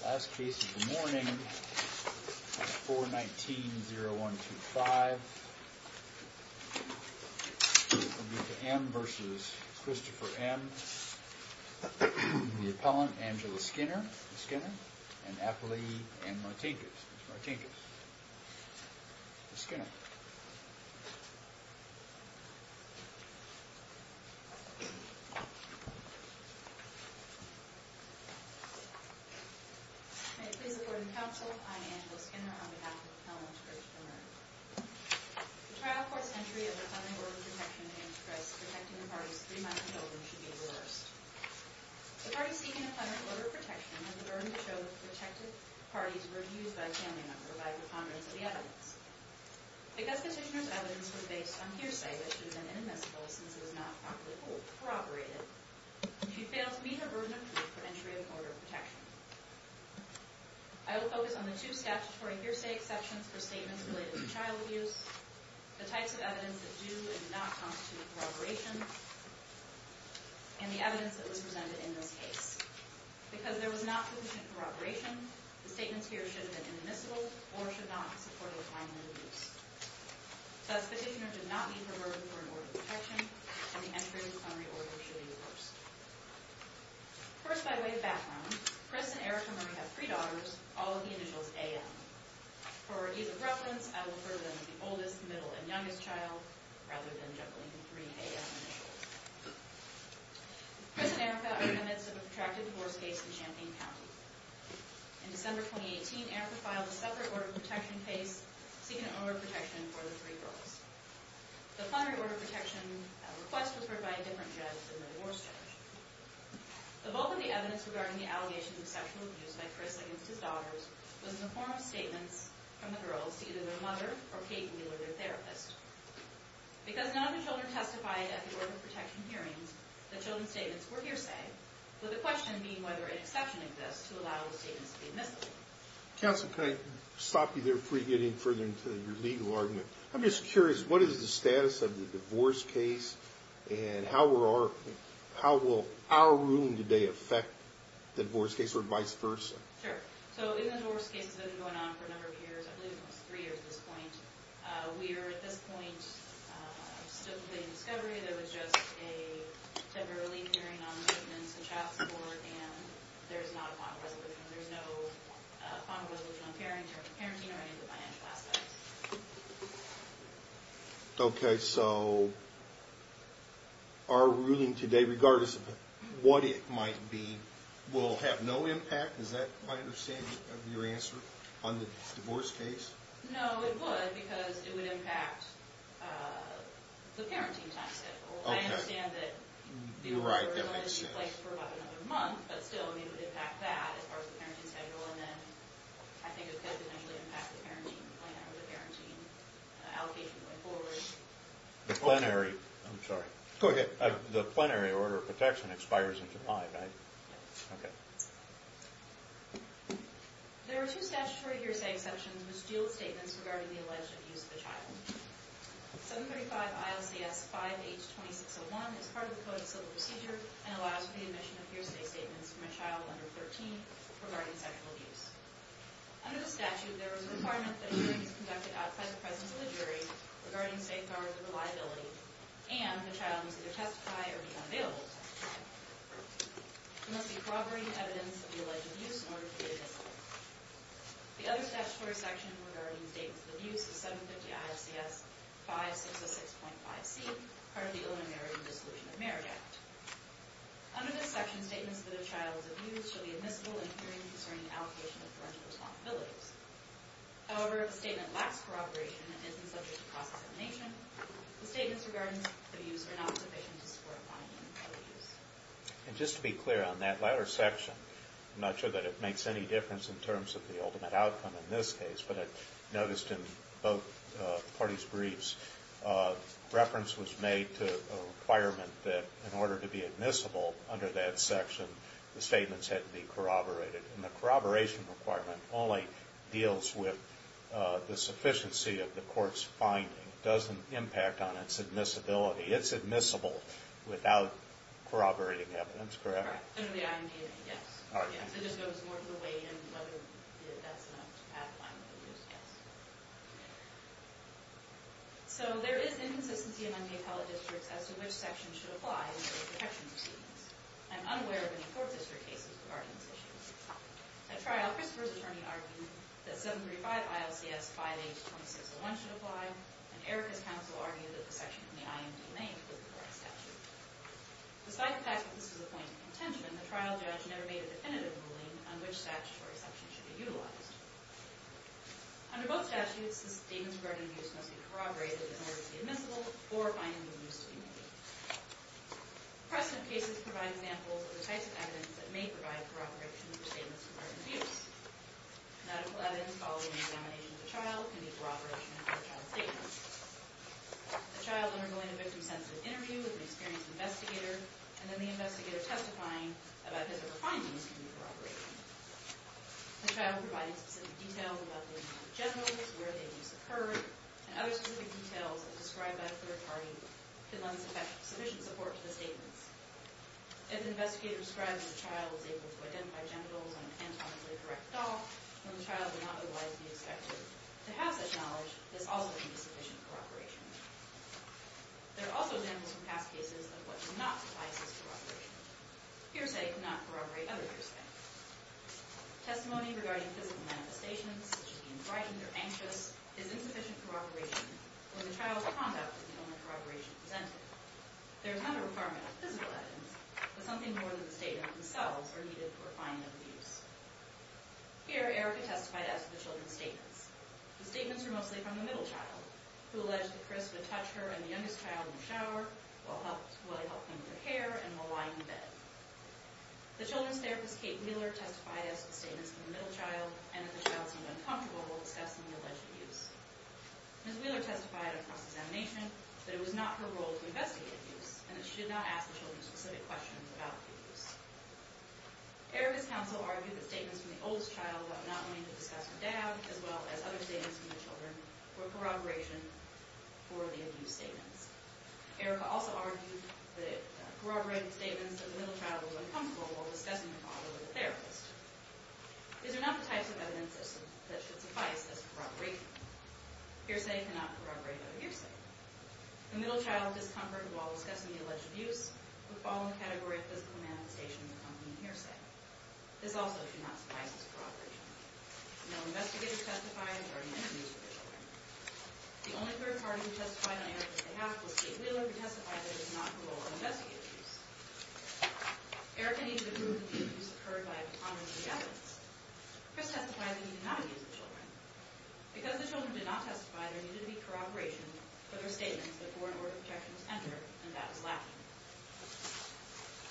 The last case of the morning is 419-0125, Amita M. v. Christopher M., the appellant Angela Skinner, and appellee Ann Martinkus, Ms. Martinkus, Ms. Skinner. May it please the court and counsel, I'm Angela Skinner on behalf of the appellant, Christopher Murray. The trial court's entry of the plenary order of protection aims to press protecting the parties three months and older should be reversed. The parties seeking the plenary order of protection have the burden to show that the protected parties were abused by a family member by the ponderance of the evidence. Because petitioner's evidence was based on hearsay that she had been inadmissible since it was not properly corroborated, she fails to meet her burden of truth for entry of the order of protection. I will focus on the two statutory hearsay exceptions for statements related to child abuse, the types of evidence that do and do not constitute corroboration, and the evidence that was presented in this case. Because there was not sufficient corroboration, the statements here should have been inadmissible or should not support a final release. Thus, petitioner did not meet her burden for an order of protection, and the entry of the plenary order should be reversed. First, by way of background, Chris and Erica Murray have three daughters, all of the initials A.M. For ease of reference, I will refer to them as the oldest, middle, and youngest child, rather than juggling the three A.M. initials. Chris and Erica are witnesses of a protracted divorce case in Champaign County. In December 2018, Erica filed a separate order of protection case seeking an order of protection for the three girls. The plenary order of protection request was referred by a different judge than the divorce judge. The bulk of the evidence regarding the allegations of sexual abuse by Chris against his daughters was in the form of statements from the girls to either their mother or Kate Wheeler, their therapist. Because none of the children testified at the order of protection hearings, the children's statements were hearsay. Would the question mean whether an exception exists to allow the statements to be admissible? Counsel, can I stop you there before you get any further into your legal argument? I'm just curious, what is the status of the divorce case, and how will our ruling today affect the divorce case, or vice versa? Sure. So, in the divorce cases that have been going on for a number of years, I believe almost three years at this point, we are, at this point, still debating discovery. There was just a temporary hearing on the statements of child support, and there's not a final resolution. There's no final resolution on parenting or any of the financial aspects. Okay, so, our ruling today, regardless of what it might be, will have no impact? Is that my understanding of your answer on the divorce case? No, it would, because it would impact the parenting time schedule. I understand that the order would only be in place for about another month, but still, it would impact that as far as the parenting schedule, and then I think it could potentially impact the parenting plan or the parenting allocation going forward. The plenary, I'm sorry. Go ahead. The plenary order of protection expires in July, right? Yes. Okay. There are two statutory hearsay exceptions which deal with statements regarding the alleged abuse of a child. 735 ILCS 5H 2601 is part of the Code of Civil Procedure and allows for the admission of hearsay statements from a child under 13 regarding sexual abuse. Under the statute, there is a requirement that hearings conducted outside the presence of the jury regarding safeguards or reliability, and the child must either testify or be unavailable to testify. There must be corroborating evidence of the alleged abuse in order to be admissible. The other statutory section regarding statements of abuse is 750 ILCS 5606.5C, part of the Illinois Marriage and Dissolution of Marriage Act. Under this section, statements of the child's abuse shall be admissible in hearings concerning allocation of parental responsibilities. However, if a statement lacks corroboration and isn't subject to cross-examination, the statements regarding abuse are not sufficient to support a finding of abuse. And just to be clear on that latter section, I'm not sure that it makes any difference in terms of the ultimate outcome in this case, but I noticed in both parties' briefs, reference was made to a requirement that in order to be admissible under that section, the statements had to be corroborated. And the corroboration requirement only deals with the sufficiency of the court's finding. It doesn't impact on its admissibility. It's admissible without corroborating evidence, correct? Correct. Under the IMDA, yes. So it just goes more of the way in whether that's enough to have a finding of abuse, yes. So there is inconsistency among the appellate districts as to which section should apply to protection proceedings. I'm unaware of any court district cases regarding this issue. At trial, Christopher's attorney argued that 735-ILCS-5H-2601 should apply, and Erica's counsel argued that the section from the IMDA was the correct statute. Despite the fact that this was a point of contention, the trial judge never made a definitive ruling on which statutory section should be utilized. Under both statutes, the statements regarding abuse must be corroborated in order to be admissible or a finding of abuse to be made. Present cases provide examples of the types of evidence that may provide corroboration for statements regarding abuse. Nautical evidence following the examination of a child can be a corroboration of a child's statements. A child undergoing a victim-sensitive interview with an experienced investigator, and then the investigator testifying about his or her findings can be a corroboration. A child providing specific details about the incident in general, where the abuse occurred, and other specific details as described by a third party, can lend sufficient support to the statements. If the investigator describes how the child was able to identify genitals on an anatomically correct doll, when the child would not otherwise be expected to have such knowledge, this also can be sufficient corroboration. There are also examples from past cases of what do not suffice as corroboration. Fearsay cannot corroborate other fearsay. Testimony regarding physical manifestations, such as being frightened or anxious, is insufficient corroboration when the child's conduct is the only corroboration presented. There is another requirement of physical evidence, but something more than the statement themselves are needed for a finding of abuse. Here, Erica testified as to the children's statements. The statements were mostly from the middle child, who alleged that Chris would touch her and the youngest child in the shower, while I helped him with their hair, and while lying in bed. The children's therapist, Kate Wheeler, testified as to the statements from the middle child, and that the child seemed uncomfortable while discussing the alleged abuse. Ms. Wheeler testified across examination that it was not her role to investigate abuse, and that she should not ask the children specific questions about abuse. Erica's counsel argued that statements from the oldest child, while not willing to discuss her dad, as well as other statements from the children, were corroboration for the abuse statements. Erica also argued that corroborated statements from the middle child were uncomfortable while discussing her father with the therapist. These are not the types of evidence that should suffice as corroboration. Hearsay cannot corroborate other hearsay. The middle child's discomfort while discussing the alleged abuse would fall in the category of physical manifestation of accompanying hearsay. This also should not suffice as corroboration. No investigators testified regarding interviews with the children. The only third party who testified on Erica's behalf was Kate Wheeler, who testified that it was not her role to investigate abuse. Erica needed to prove that the abuse occurred by opponents of the evidence. Chris testified that he did not abuse the children. Because the children did not testify, there needed to be corroboration for their statements before an order of protection was entered, and that was lacking.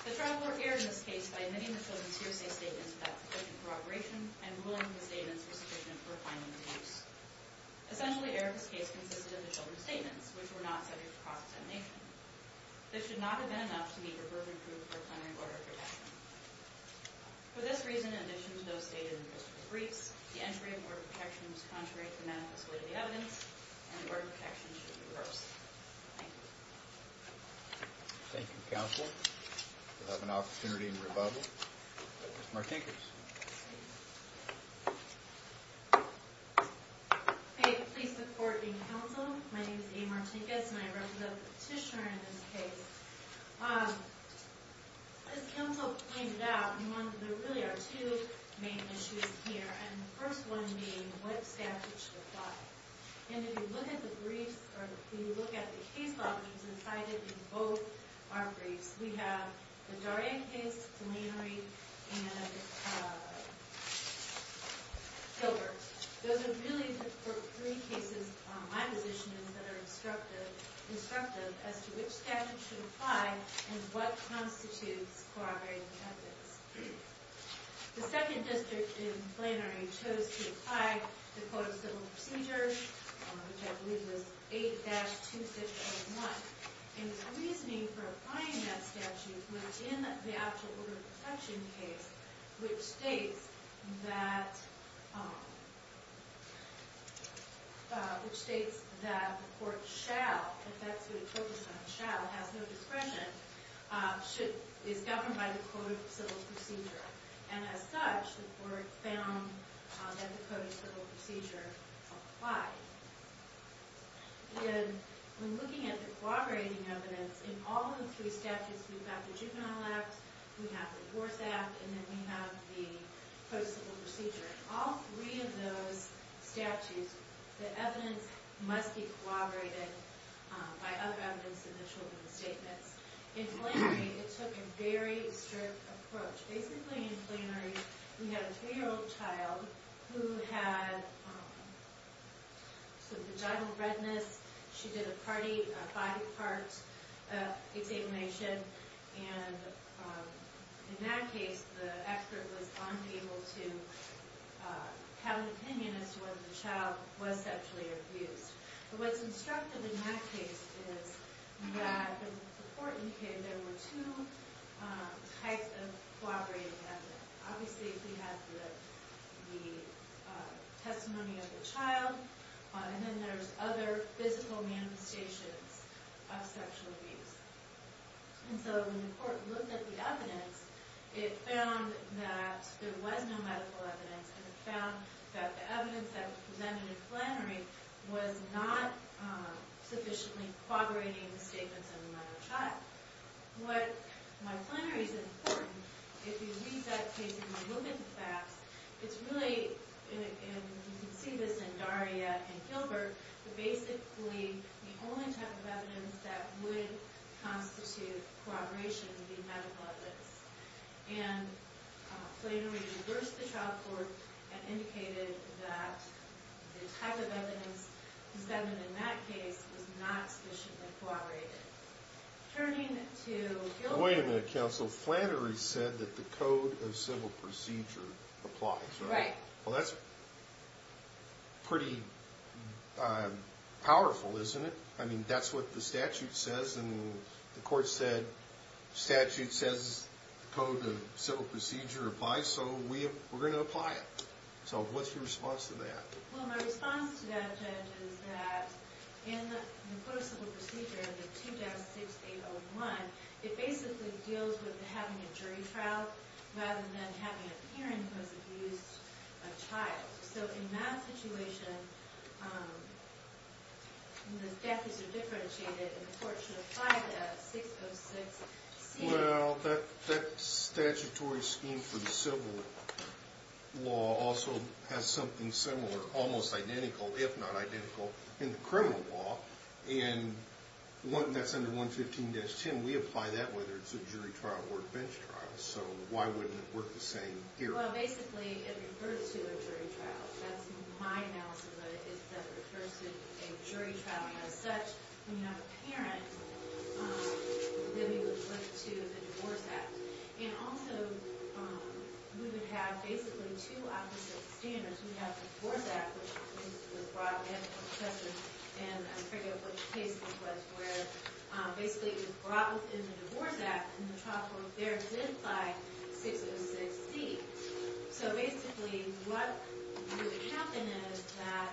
The trial court erred in this case by admitting the children's hearsay statements without sufficient corroboration and ruling the statements were sufficient for finding abuse. Essentially, Erica's case consisted of the children's statements, which were not subject to cross-examination. This should not have been enough to meet her burden of proof for a plenary order of protection. For this reason, in addition to those stated in Christopher's briefs, the entry of an order of protection was contrary to the manifest way of the evidence, and the order of protection should be reversed. Thank you. Thank you, counsel. We'll have an opportunity in rebuttal. Mr. Martinkus. Please support the counsel. My name is Amy Martinkus, and I represent the petitioner in this case. As counsel pointed out, there really are two main issues here, and the first one being what statute should apply. And if you look at the briefs, or if you look at the case log that's incited in both our briefs, we have the Darien case, plenary, and Gilbert. Those are really the three cases, my position is, that are instructive as to which statute should apply and what constitutes corroborating the evidence. The second district in plenary chose to apply the Code of Civil Procedure, which I believe was 8-2601, and the reasoning for applying that statute was in the actual order of protection case, which states that the court shall, if that's what it focuses on, shall, has no discretion, is governed by the Code of Civil Procedure. And as such, the court found that the Code of Civil Procedure applies. And when looking at the corroborating evidence, in all of the three statutes, we have the juvenile act, we have the divorce act, and then we have the Code of Civil Procedure. In all three of those statutes, the evidence must be corroborated by other evidence in the children's statements. In plenary, it took a very strict approach. Basically, in plenary, we had a three-year-old child who had some vaginal redness. She did a body part examination, and in that case, the expert was unable to have an opinion as to whether the child was sexually abused. But what's instructive in that case is that the court indicated there were two types of corroborating evidence. Obviously, we have the testimony of the child, and then there's other physical manifestations of sexual abuse. And so when the court looked at the evidence, it found that there was no medical evidence, and it found that the evidence that was presented in plenary was not sufficiently corroborating the statements of the minor child. What my plenary is important, if you read that case and you look at the facts, it's really, and you can see this in Daria and Gilbert, basically the only type of evidence that would constitute corroboration would be medical evidence. And plenary reversed the trial court and indicated that the type of evidence presented in that case was not sufficiently corroborated. Turning to Gilbert. Wait a minute, counsel. Plenary said that the Code of Civil Procedure applies, right? Right. Well, that's pretty powerful, isn't it? I mean, that's what the statute says, and the court said statute says the Code of Civil Procedure applies, so we're going to apply it. So what's your response to that? Well, my response to that, Judge, is that in the Code of Civil Procedure, the 2-6801, it basically deals with having a jury trial rather than having a parent who has abused a child. So in that situation, the decades are differentiated, and the court should apply the 606C. Well, that statutory scheme for the civil law also has something similar, almost identical, if not identical, in the criminal law. And that's under 115-10. We apply that whether it's a jury trial or a bench trial. So why wouldn't it work the same here? Well, basically, it refers to a jury trial. That's my analysis of it, is that it refers to a jury trial as such. When you have a parent, then we would flip to the Divorce Act. And also, we would have basically two opposite standards. We have the Divorce Act, which is the broad ethical assessment, and I forget what the case was where. Basically, it was brought within the Divorce Act, and the trial court there did apply 606C. So basically, what would happen is that,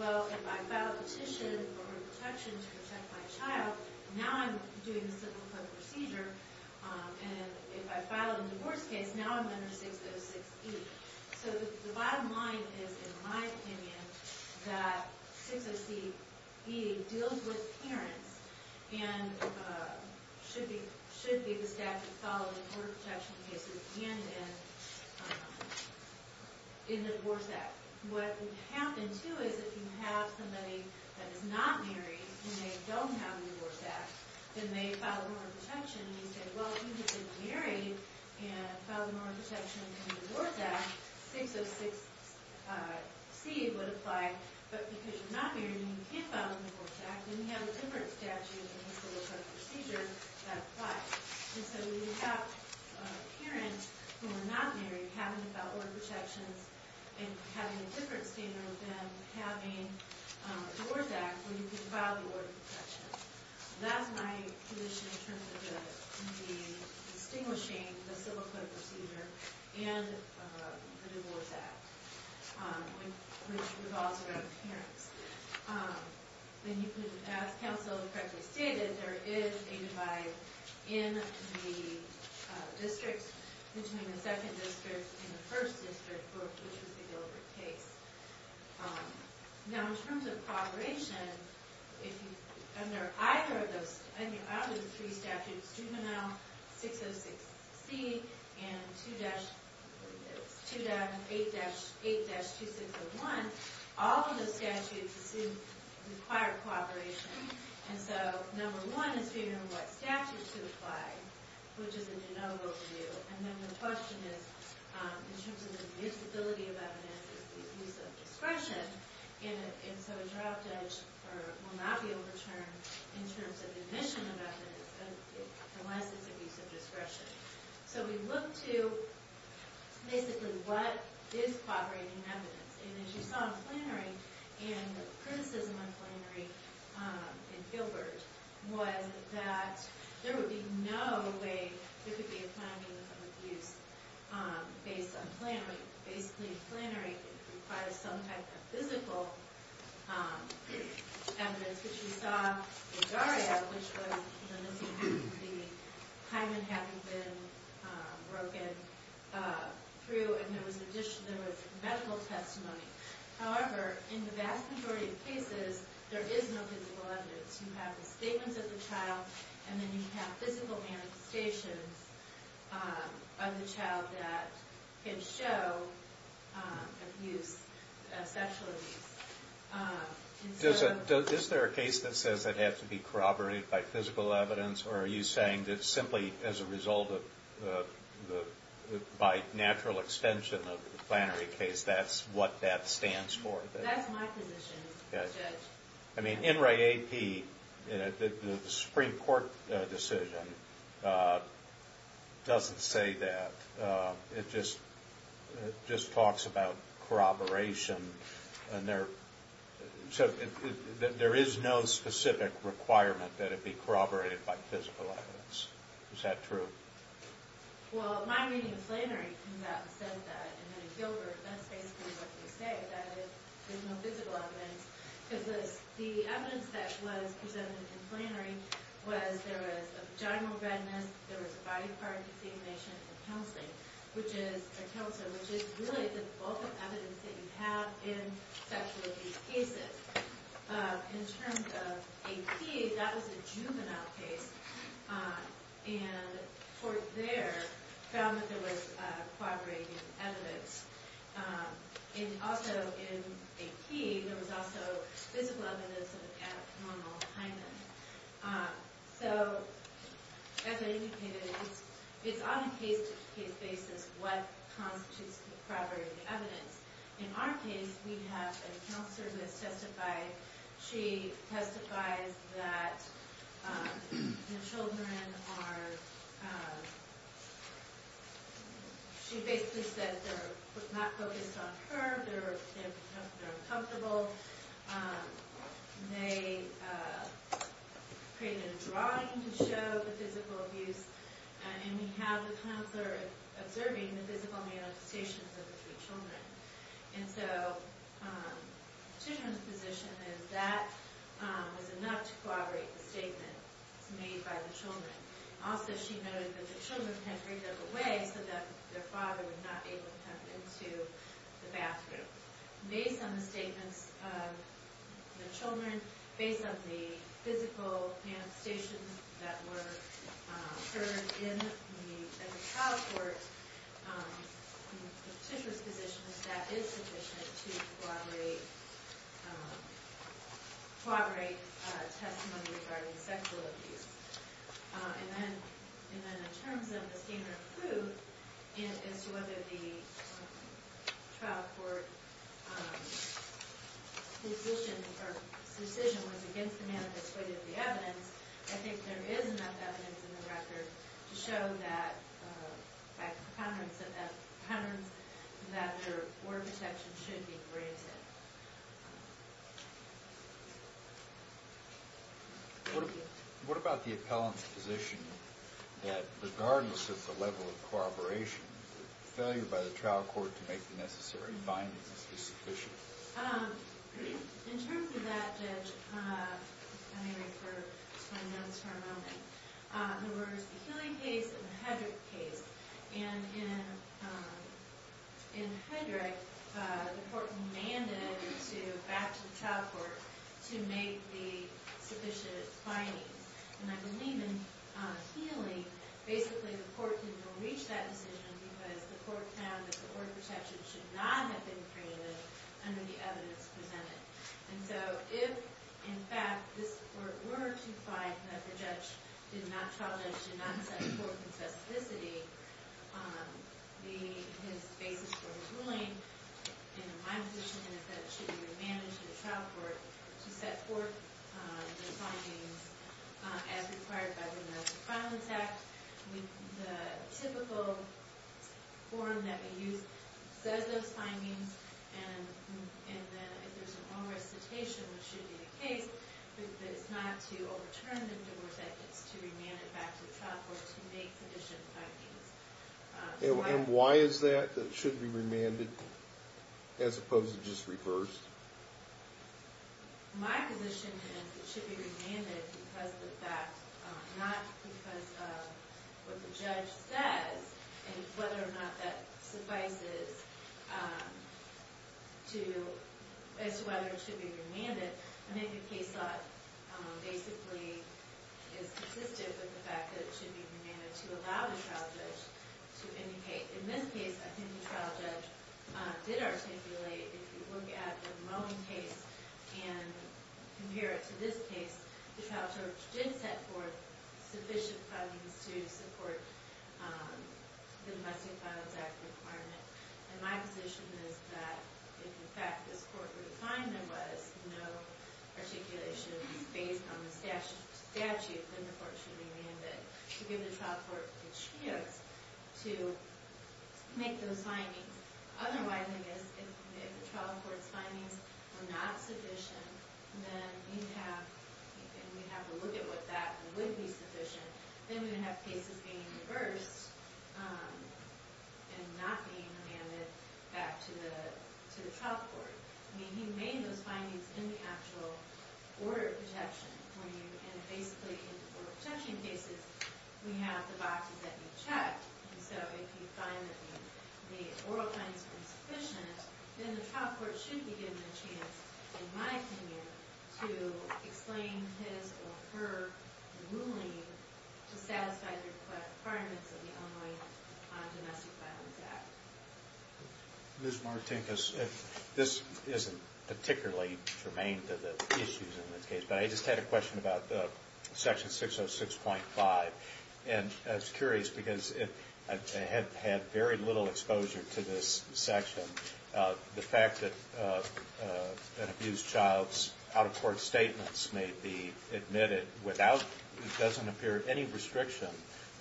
well, if I file a petition for protection to protect my child, now I'm doing the civil court procedure, and if I file a divorce case, now I'm under 606E. So the bottom line is, in my opinion, that 606E deals with parents and should be the statute following court protection cases and in the Divorce Act. What would happen, too, is if you have somebody that is not married and they don't have the Divorce Act, then they file a mormon protection and you say, well, if you've been married and filed a mormon protection in the Divorce Act, then 606C would apply, but because you're not married and you can't file a divorce act, then you have a different statute in the civil court procedure that applies. And so we would have parents who are not married having to file mormon protections and having a different standard than having a Divorce Act where you can file the mormon protections. That's my position in terms of the distinguishing the civil court procedure and the Divorce Act, which revolves around parents. As counsel correctly stated, there is a divide in the districts between the second district and the first district, which was the Gilbert case. Now in terms of cooperation, under either of those three statutes, Juvenile 606C and 8-2601, all of those statutes require cooperation. And so number one is figuring out what statute to apply, which is a de novo review. And then the question is, in terms of the admissibility of evidence, is it use of discretion? And so a draft judge will not be overturned in terms of admission of evidence unless it's a use of discretion. So we look to basically what is cooperating evidence. And as you saw in Plannery, and the criticism in Plannery and Gilbert, was that there would be no way there could be a finding of abuse based on Plannery. Basically, Plannery requires some type of physical evidence, which we saw in Daria, which was the hymen having been broken through, and there was medical testimony. However, in the vast majority of cases, there is no physical evidence. You have the statements of the child, and then you have physical manifestations of the child that can show abuse, sexual abuse. Is there a case that says it had to be corroborated by physical evidence, or are you saying that simply as a result of, by natural extension of the Plannery case, that's what that stands for? That's my position as judge. I mean, in Ray A.P., the Supreme Court decision doesn't say that. It just talks about corroboration, and there is no specific requirement that it be corroborated by physical evidence. Is that true? Well, my reading of Plannery comes out and says that, and then at Gilbert, that's basically what they say, that there's no physical evidence, because the evidence that was presented in Plannery was there was a vaginal redness, there was a body part defamation, and a kilter, which is really the bulk of evidence that you have in sexual abuse cases. In terms of A.P., that was a juvenile case, and the court there found that there was corroborating evidence. And also in A.P., there was also physical evidence of abnormal hymen. So, as I indicated, it's on a case-to-case basis what constitutes corroborating evidence. In our case, we have a counselor who has testified. She testifies that the children are... She basically says they're not focused on her, they're uncomfortable. They created a drawing to show the physical abuse, and we have the counselor observing the physical manifestations of the three children. And so the petitioner's position is that was enough to corroborate the statement made by the children. Also, she noted that the children had freed up a way so that their father was not able to come into the bathroom. Based on the statements of the children, based on the physical manifestations that were heard in the trial court, the petitioner's position is that is sufficient to corroborate testimony regarding sexual abuse. And then, in terms of the standard of proof, as to whether the trial court's decision was against the manifest, I think there is enough evidence in the record to show that... that their word protection should be granted. What about the appellant's position that, regardless of the level of corroboration, failure by the trial court to make the necessary findings is sufficient? In terms of that, Judge, I may refer to my notes for a moment. There was the Healy case and the Hedrick case. And in Hedrick, the court demanded back to the trial court to make the sufficient findings. And I believe in Healy, basically the court didn't reach that decision because the court found that the word protection should not have been created under the evidence presented. And so, if, in fact, this court were to find that the trial judge did not set forth in specificity his basis for his ruling, in my position, and if that should be remanded to the trial court to set forth the findings as required by the American Violence Act, the typical form that we use says those findings, and then if there's a wrong recitation, which should be the case, that it's not to overturn the word, that it's to remand it back to the trial court to make sufficient findings. And why is that, that it should be remanded as opposed to just reversed? My position is it should be remanded because of the fact, not because of what the judge says, and whether or not that suffices as to whether it should be remanded. I think the case law basically is consistent with the fact that it should be remanded to allow the trial judge to indicate. In this case, I think the trial judge did articulate, if you look at the Moen case and compare it to this case, the trial judge did set forth sufficient findings to support the domestic violence act requirement. And my position is that if, in fact, this court were to find there was no articulations based on the statute, then the court should remand it to give the trial court the chance to make those findings. Otherwise, I guess, if the trial court's findings were not sufficient, then you'd have to look at what that would be sufficient. Then we'd have cases being reversed and not being remanded back to the trial court. I mean, he made those findings in the actual order of protection. And basically, in order of protection cases, we have the boxes that we checked. And so if you find that the oral findings were insufficient, then the trial court should be given a chance, in my opinion, to explain his or her ruling to satisfy the requirements of the Illinois Domestic Violence Act. Ms. Martinkus, this isn't particularly germane to the issues in this case, but I just had a question about Section 606.5. And I was curious because I have had very little exposure to this section. The fact that an abused child's out-of-court statements may be admitted without, it doesn't appear any restriction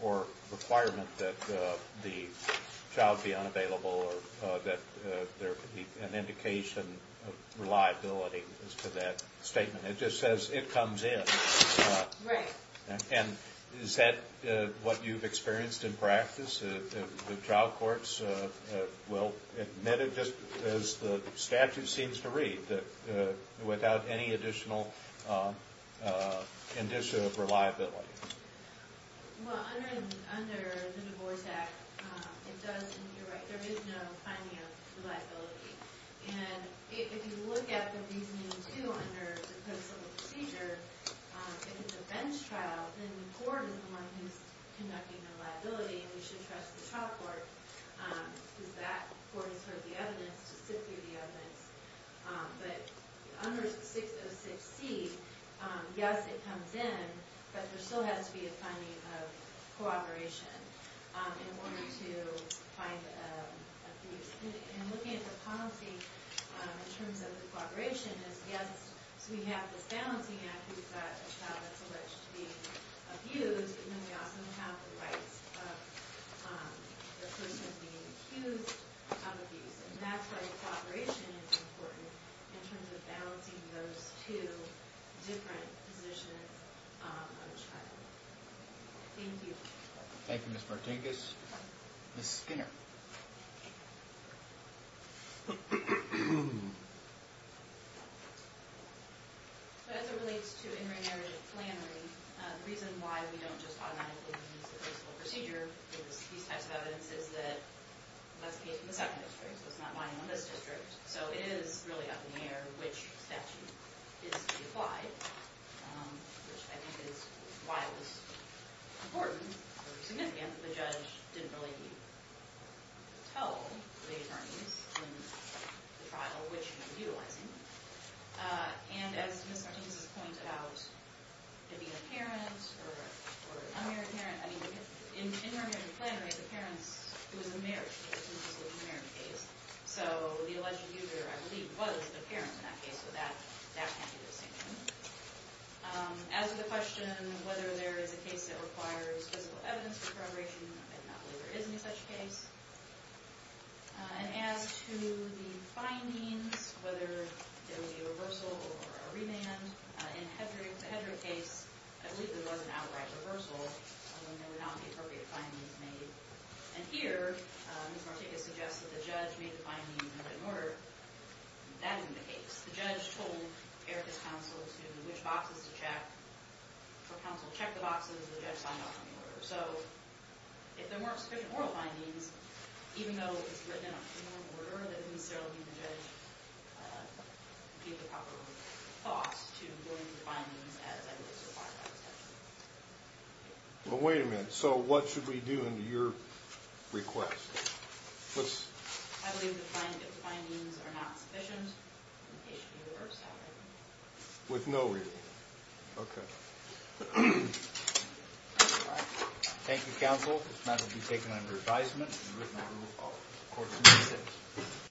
or requirement that the child be unavailable or that there could be an indication of reliability as to that statement. It just says it comes in. Right. And is that what you've experienced in practice? The trial courts will admit it just as the statute seems to read, without any additional indicia of reliability. Well, under the Divorce Act, it does seem to be right. There is no finding of reliability. And if you look at the reasoning, too, under the Post Civil Procedure, if it's a bench trial, then the court is the one who's conducting the liability, and we should trust the trial court because that court has heard the evidence and has to sit through the evidence. But under 606C, yes, it comes in, but there still has to be a finding of cooperation in order to find abuse. And looking at the policy in terms of the cooperation is, yes, we have this balancing act. We've got a child that's alleged to be abused, and then we also have the rights of the person being accused of abuse. And natural cooperation is important in terms of balancing those two different positions on the trial. Thank you. Thank you, Ms. Martinkus. Ms. Skinner. As it relates to intermarriage and plannery, the reason why we don't just automatically use the Post Civil Procedure these types of evidence is that that's the case in the second district, so it's not binding on this district. So it is really up in the air which statute is to be applied, which I think is why it was important or significant that the judge didn't really tell the attorneys in the trial which he was utilizing. And as Ms. Martinkus has pointed out, it could be apparent or un-apparent. I mean, intermarriage and plannery, the parents, it was a marriage case, it wasn't just a marriage case. So the alleged abuser, I believe, was the parent in that case, so that can't be the distinction. As to the question whether there is a case that requires physical evidence for corroboration, I do not believe there is any such case. And as to the findings, whether there will be a reversal or a remand, in the Hedrick case, I believe there was an outright reversal, although there were not the appropriate findings made. And here, Ms. Martinkus suggests that the judge made the findings in a written order. That isn't the case. The judge told Erica's counsel which boxes to check. Her counsel checked the boxes. The judge signed off on the order. So if there weren't sufficient oral findings, even though it's written in a written order, then we still need the judge to give the proper thoughts to doing the findings as I believe is required by the statute. Well, wait a minute. So what should we do under your request? I believe the findings are not sufficient. They should be reversed however. With no reason. Okay. Thank you, counsel. This matter will be taken under advisement in the written order of Court 26.